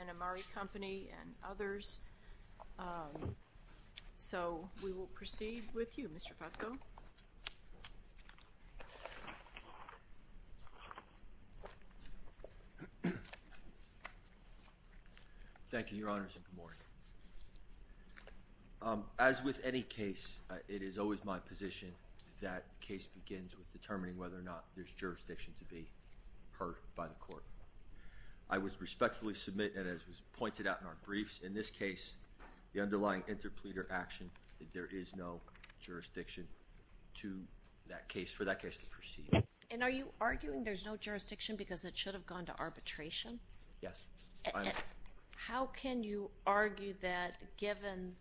and Amari Company and others, so we will proceed with you, Mr. Fusco. Thank you, Your Honors, and good morning. As with any case, it is always my position that the case begins with determining whether or not there's jurisdiction to be heard by the court. I would respectfully submit, and as was pointed out in our briefs, in this to that case, for that case to proceed. And are you arguing there's no jurisdiction because it should have gone to arbitration? Yes. How can you argue that, given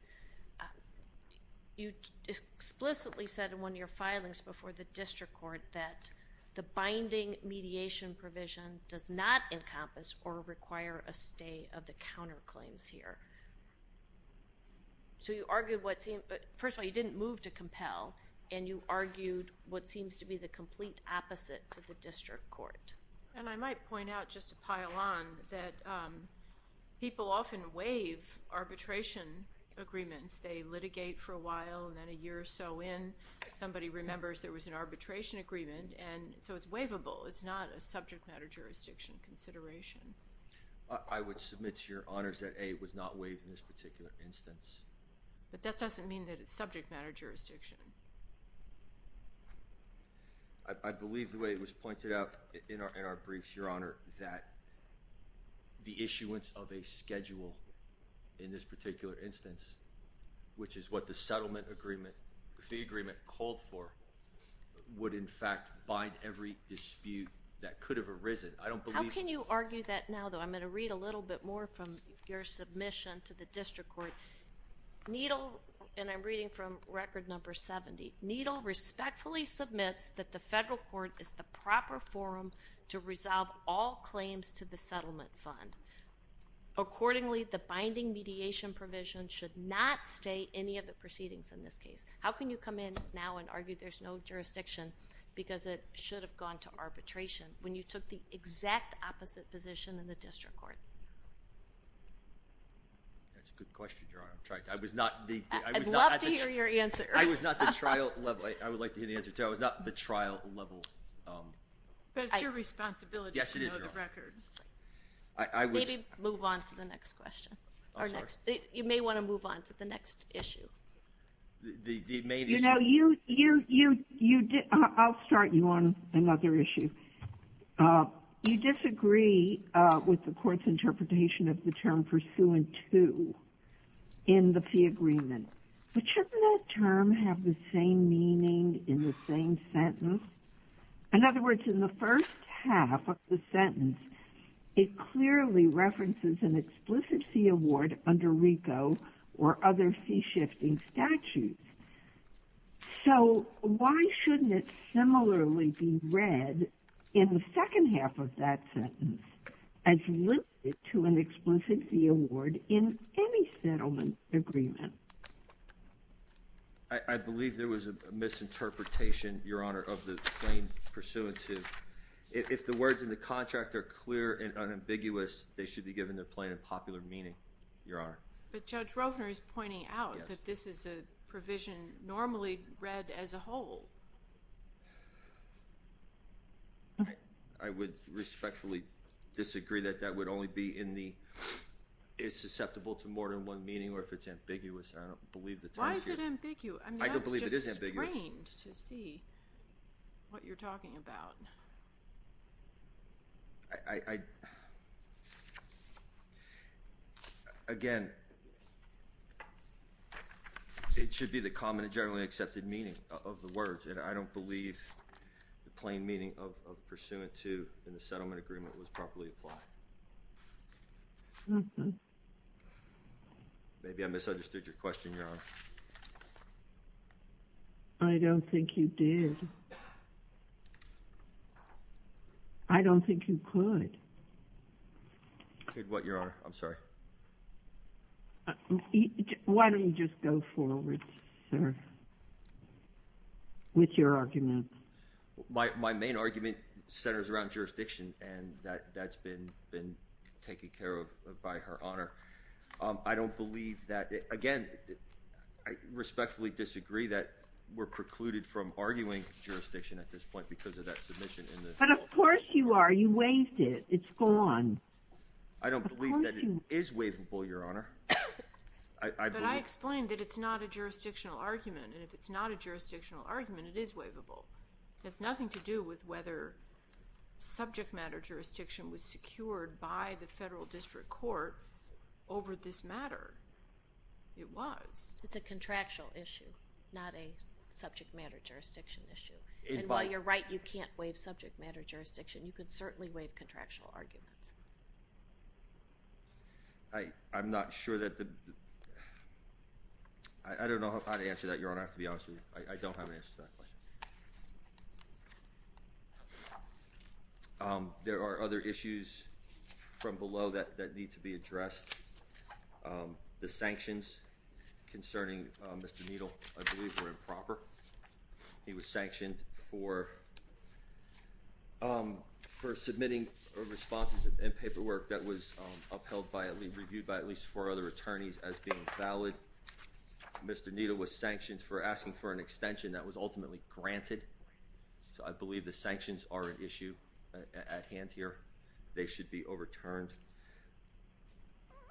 you explicitly said in one of your filings before the district court that the binding mediation provision does not encompass or require a stay of the counterclaims here? So you argued what seemed First of all, you didn't move to compel, and you argued what seems to be the complete opposite to the district court. And I might point out, just to pile on, that people often waive arbitration agreements. They litigate for a while, and then a year or so in, somebody remembers there was an arbitration agreement, and so it's waivable. It's not a subject matter jurisdiction consideration. I would submit to Your Honors that A was not waived in this particular instance. But that doesn't mean that it's subject matter jurisdiction. I believe the way it was pointed out in our briefs, Your Honor, that the issuance of a schedule in this particular instance, which is what the settlement agreement, the agreement called for, would in fact bind every dispute that could have arisen. I don't believe— How can you argue that now, though? I'm going to read a little bit more from your submission to the district court. Needle—and I'm reading from record number 70—Needle respectfully submits that the federal court is the proper forum to resolve all claims to the settlement fund. Accordingly, the binding mediation provision should not stay any of the proceedings in this case. How can you come in now and argue there's no jurisdiction because it should have gone to arbitration when you took the exact opposite position in the district court? That's a good question, Your Honor. I'm sorry. I was not the— I'd love to hear your answer. I was not the trial level—I would like to hear the answer, too. I was not the trial level— But it's your responsibility to know the record. Yes, it is, Your Honor. Maybe move on to the next question or next—you may want to move on to the next issue. The main issue— You—I'll start you on another issue. You disagree with the court's interpretation of the term pursuant to in the fee agreement. But shouldn't that term have the same meaning in the same sentence? In other words, in the first half of the sentence, it clearly references an explicit fee award under RICO or other fee-shifting statutes. So why shouldn't it similarly be read in the second half of that sentence as linked to an explicit fee award in any settlement agreement? I believe there was a misinterpretation, Your Honor, of the claim pursuant to—if the words in the contract are clear and unambiguous, they should be given their plain and popular meaning, Your Honor. But Judge Rofner is pointing out that this is a provision normally read as a whole. I would respectfully disagree that that would only be in the—is susceptible to more than one meaning or if it's ambiguous. I don't believe the term here— Why is it ambiguous? I mean, that's just strained to see what you're talking about. I—again, it should be the common and generally accepted meaning of the words, and I don't believe the plain meaning of pursuant to in the settlement agreement was properly applied. Maybe I misunderstood your question, Your Honor. I don't think you did. I don't think you could. Could what, Your Honor? I'm sorry. Why don't you just go forward, sir, with your argument? My main argument centers around jurisdiction, and that's been taken care of by Her Honor. I don't believe that—again, I respectfully disagree that we're precluded from arguing jurisdiction at this point because of that submission in the— But of course you are. You waived it. It's gone. I don't believe that it is waivable, Your Honor. But I explained that it's not a jurisdictional argument, and if it's not a jurisdictional argument, it is waivable. It has nothing to do with whether subject matter jurisdiction was secured by the federal district court over this matter. It was. It's a contractual issue, not a subject matter jurisdiction issue. And while you're right you can't waive subject matter jurisdiction, you could certainly waive contractual arguments. I'm not sure that the—I don't know how to answer that, Your Honor, to be honest with you. I don't have an answer to that question. There are other issues from below that need to be addressed. The sanctions concerning Mr. Needle, I believe, were improper. He was sanctioned for submitting responses and paperwork that was upheld by—reviewed by at least four other attorneys as being valid. Mr. Needle was sanctioned for asking for an extension that was ultimately granted. So I believe the sanctions are an issue at hand here. They should be overturned.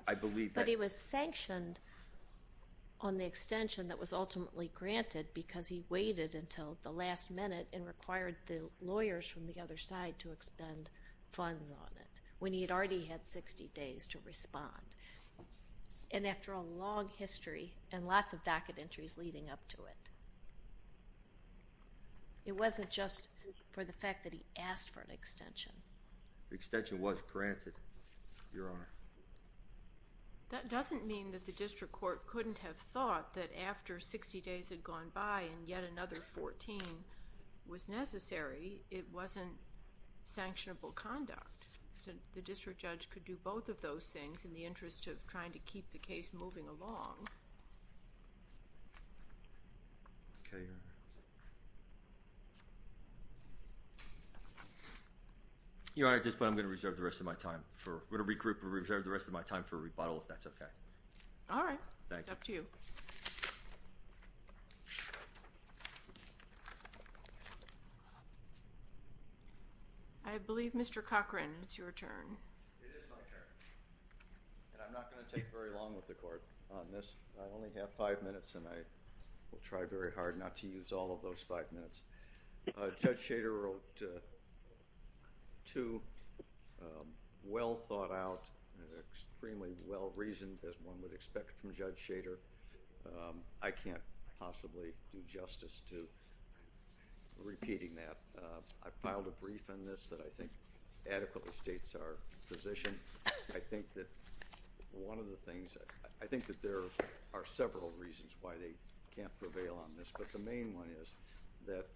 I believe that— But he was sanctioned on the extension that was ultimately granted because he waited until the last minute and required the lawyers from the other side to expend funds on it when he had already had 60 days to respond. And after a long history and lots of docket entries leading up to it. It wasn't just for the fact that he asked for an extension. The extension was granted, Your Honor. That doesn't mean that the district court couldn't have thought that after 60 days had gone by and yet another 14 was necessary, it wasn't sanctionable conduct. The district judge could do both of those things in the interest of trying to keep the case moving along. You're right at this point, I'm going to reserve the rest of my time for—I'm going to regroup and reserve the rest of my time for a rebuttal if that's okay. All right. It's up to you. I believe, Mr. Cochran, it's your turn. It is my turn. And I'm not going to take very long with the court on this. I only have five minutes and I will try very hard not to use all of those five minutes. Judge Shader wrote two well thought out, extremely well reasoned, as one would expect from Judge Shader. I can't possibly do justice to repeating that. I filed a brief on this that I think adequately states our position. I think that one of the things—I think that there are several reasons why they can't prevail on this, but the main one is that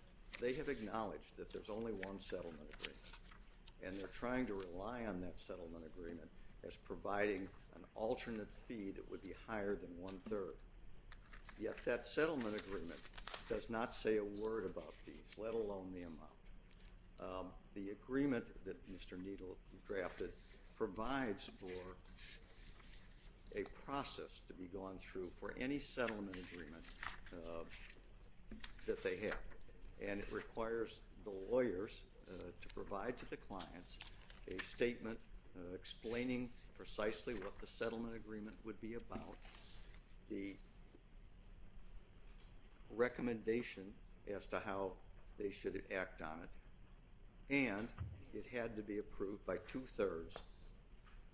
they have acknowledged that there's only one settlement agreement and they're trying to rely on that settlement agreement as providing an alternate fee that would be higher than one-third. Yet that settlement agreement does not say a word about these, let alone the amount. The agreement that Mr. Needle drafted provides for a process to be gone through for any settlement agreement that they have. And it requires the lawyers to provide to the clients a statement explaining precisely what the settlement agreement would be about, the recommendation as to how they should act on it, and it had to be approved by two-thirds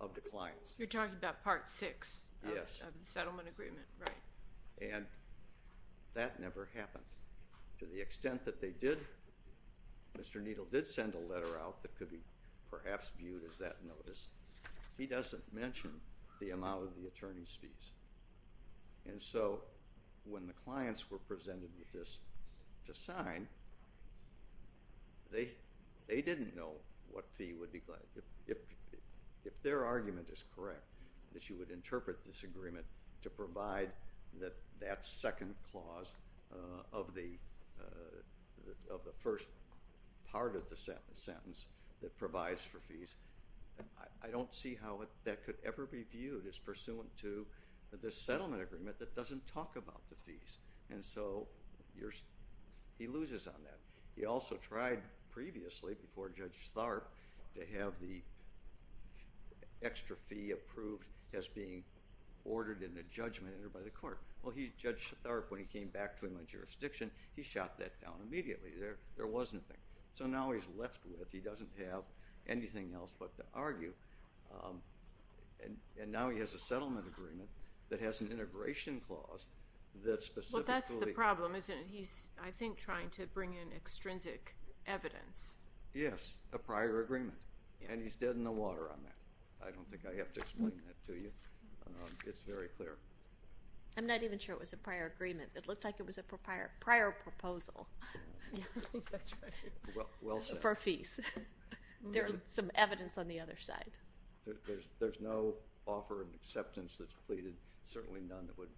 of the clients. You're talking about part six of the settlement agreement, right? And that never happened. To the extent that they did, Mr. Needle did send a letter out that could perhaps be viewed as that notice. He doesn't mention the amount of the attorney's fees. And so when the clients were presented with this to sign, they didn't know what fee would be—if their argument is correct, that you would interpret this agreement to provide that second clause of the first part of the sentence that provides for fees. I don't see how that could ever be viewed as pursuant to the settlement agreement that doesn't talk about the fees. And so he loses on that. He also tried previously before Judge Tharp to have the jurisdiction. He shot that down immediately. There wasn't a thing. So now he's left with—he doesn't have anything else but to argue. And now he has a settlement agreement that has an integration clause that specifically— Well, that's the problem, isn't it? He's, I think, trying to bring in extrinsic evidence. Yes, a prior agreement. And he's dead in the water on that. I don't think I have to explain that to you. It's very clear. I'm not even sure it was a prior agreement. It looked like it was a prior proposal. That's right. Well said. For fees. There's some evidence on the other side. There's no offer and acceptance that's pleaded, certainly none that would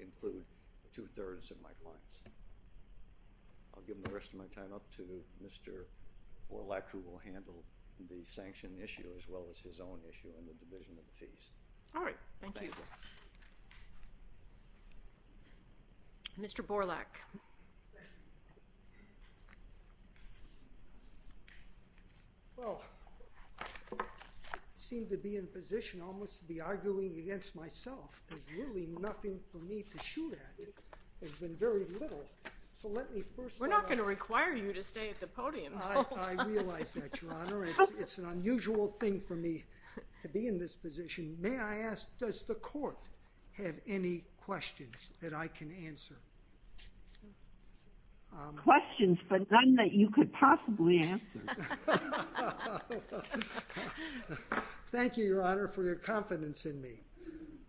include two-thirds of my clients. I'll give the rest of my time up to Mr. Borlak, who will handle the sanction issue as well as his own issue in the Division of Fees. All right. Thank you. Mr. Borlak. Well, I seem to be in a position almost to be arguing against myself. There's really nothing for me to shoot at. There's been very little. So let me first— We're not going to require you to stay at the podium. I realize that, Your Honor. It's an unusual thing for me to be in this position. May I ask, does the Court have any questions that I can answer? Questions, but none that you could possibly answer. Thank you, Your Honor, for your confidence in me.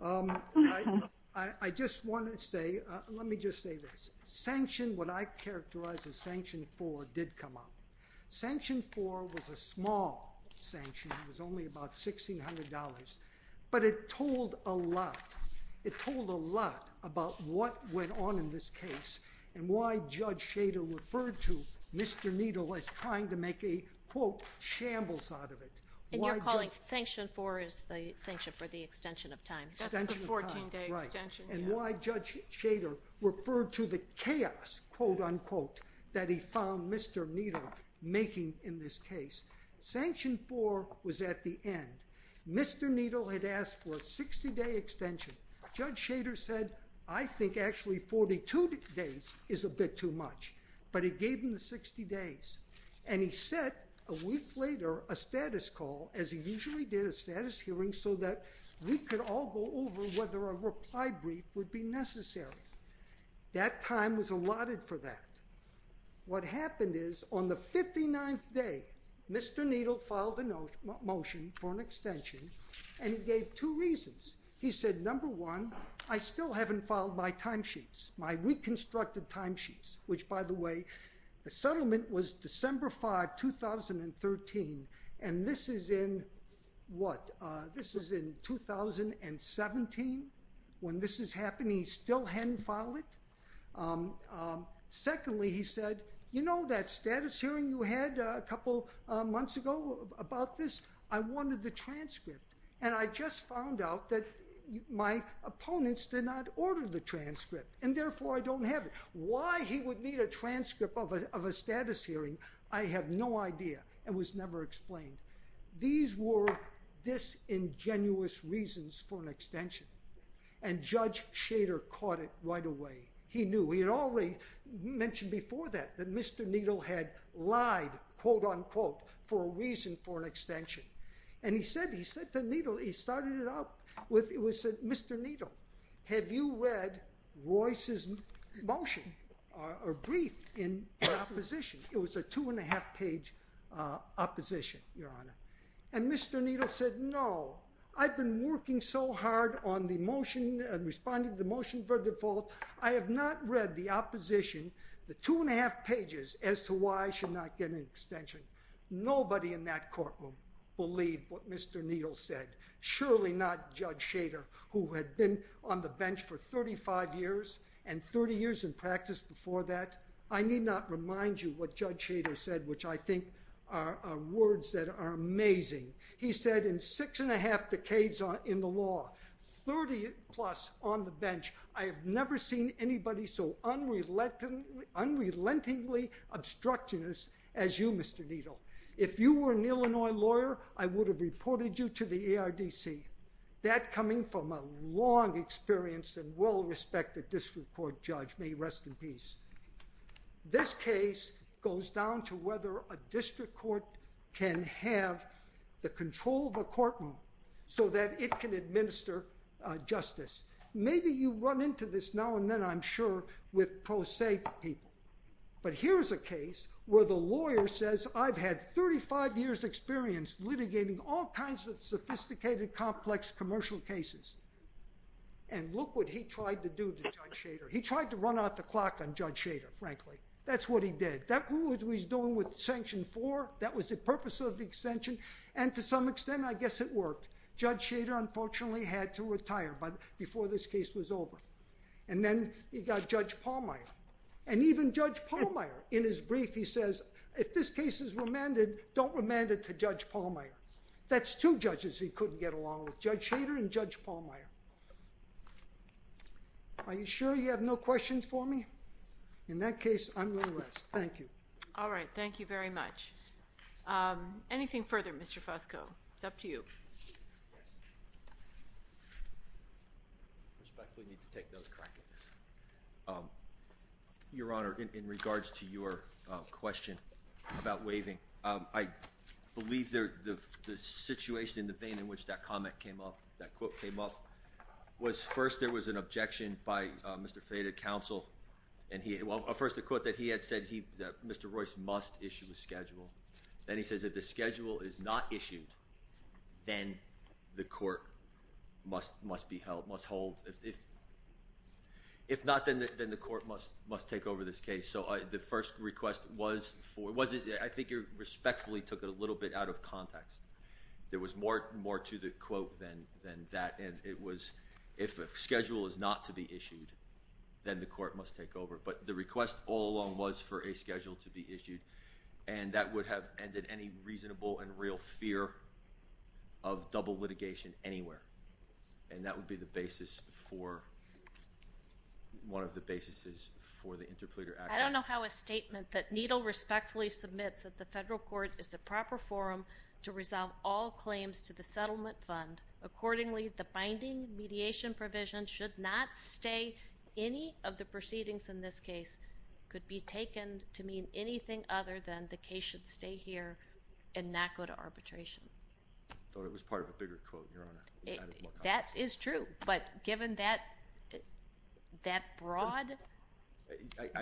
I just want to say, let me just say this. What I characterize as Sanction 4 did come up. Sanction 4 was a small sanction. It was only about $1,600. But it told a lot. It told a lot about what went on in this case and why Judge Schader referred to Mr. Needle as trying to make a, quote, shambles out of it. And you're calling Sanction 4 as the sanction for the extension of time. That's the 14-day extension. And why Judge Schader referred to the chaos, quote, unquote, that he found Mr. Needle making in this case. Sanction 4 was at the end. Mr. Needle had asked for a 60-day extension. Judge Schader said, I think actually 42 days is a bit too much. But he gave him the 60 days. And he set, a week later, a status call, as he usually did a status hearing, so that we could all go over whether a reply brief would be necessary. That time was allotted for that. What happened is, on the 59th day, Mr. Needle filed a motion for an extension. And he gave two reasons. He said, number one, I still haven't filed my timesheets, my reconstructed timesheets, which, by the way, the settlement was December 5, 2013. And this is in, what, this is in 2017. When this is happening, he still hadn't filed it. Secondly, he said, you know that status hearing you had a couple months ago about this? I wanted the transcript. And I just found out that my don't have it. Why he would need a transcript of a status hearing, I have no idea. It was never explained. These were disingenuous reasons for an extension. And Judge Schader caught it right away. He knew. He had already mentioned before that, that Mr. Needle had lied, quote, unquote, for a reason for an extension. And he said to Needle, he started it out with, he said, Mr. Needle, have you read Royce's motion or brief in opposition? It was a two and a half page opposition, Your Honor. And Mr. Needle said, no, I've been working so hard on the motion and responding to the motion for default. I have not read the opposition, the two and a half pages, as to why I should not get an extension. Nobody in that courtroom believed what Mr. Needle said, surely not Judge Schader, who had been on the bench for 35 years and 30 years in practice before that. I need not remind you what Judge Schader said, which I think are words that are amazing. He said, in six and a half decades in the law, 30 plus on the bench, I have never seen anybody so unrelentingly obstructionist as you, Mr. Needle. If you were an Illinois lawyer, I would have reported you to the ARDC. That coming from a long experience and well-respected district court, Judge, may he rest in peace. This case goes down to whether a district court can have the control of a courtroom so that it can administer justice. Maybe you run into this now and then, I'm sure, with pro se people. But here's a case where the lawyer says, I've had 35 years experience litigating all kinds of sophisticated, complex commercial cases. And look what he tried to do to Judge Schader. He tried to run out the clock on Judge Schader, frankly. That's what he did. That's what he's doing with Sanction 4. That was the purpose of the extension. And to some extent, I guess it worked. Judge Schader, unfortunately, had to retire before this case was over. And then he got Judge Pallmeyer. And even Judge Pallmeyer, in his brief, he says, if this case is remanded, don't remand it to Judge Pallmeyer. That's two judges he couldn't get along with, Judge Schader and Judge Pallmeyer. Are you sure you have no questions for me? In that case, I'm going to rest. Thank you. All right. Thank you very much. Anything further, Mr. Fusco? It's up to you. I respectfully need to take those crack at this. Your Honor, in regards to your question about waiving, I believe the situation in the vein in which that comment came up, that quote came up, was first there was an objection by Mr. Fayette of counsel. And he, well, first a quote that he had said he, that Mr. Royce must issue a schedule. Then he says if the schedule is not issued, then the court must be held, must hold. If not, then the court must take over this case. So the first request was for, I think you respectfully took it a little bit out of context. There was more to the quote than that. And it was, if a schedule is not to be issued, then the court must take over. But the request all along was for a schedule to be issued. And that would have ended any reasonable and real fear of double litigation anywhere. And that would be the basis for, one of the basis is for the interpleader action. I don't know how a statement that Needle respectfully submits at the federal court is the proper forum to resolve all claims to the settlement fund. Accordingly, the binding mediation provision should not stay. Any of the proceedings in this case could be taken to mean anything other than the case should stay here and not go to arbitration. I thought it was part of a bigger quote, Your Honor. That is true. But given that, that broad,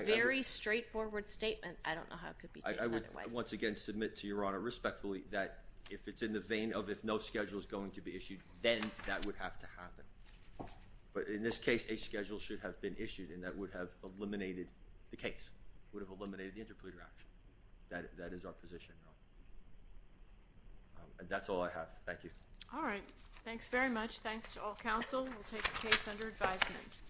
very straightforward statement, I don't know how it could be taken otherwise. I would once again submit to Your Honor respectfully that if it's in the vein of, if no schedule is going to be issued, then that would have to happen. But in this case, a schedule should have been issued and that would have eliminated the case, would have eliminated the interpleader action. That is our position, Your Honor. That's all I have. Thank you. All right. Thanks very much. Thanks to all counsel. We'll take the case under advisement.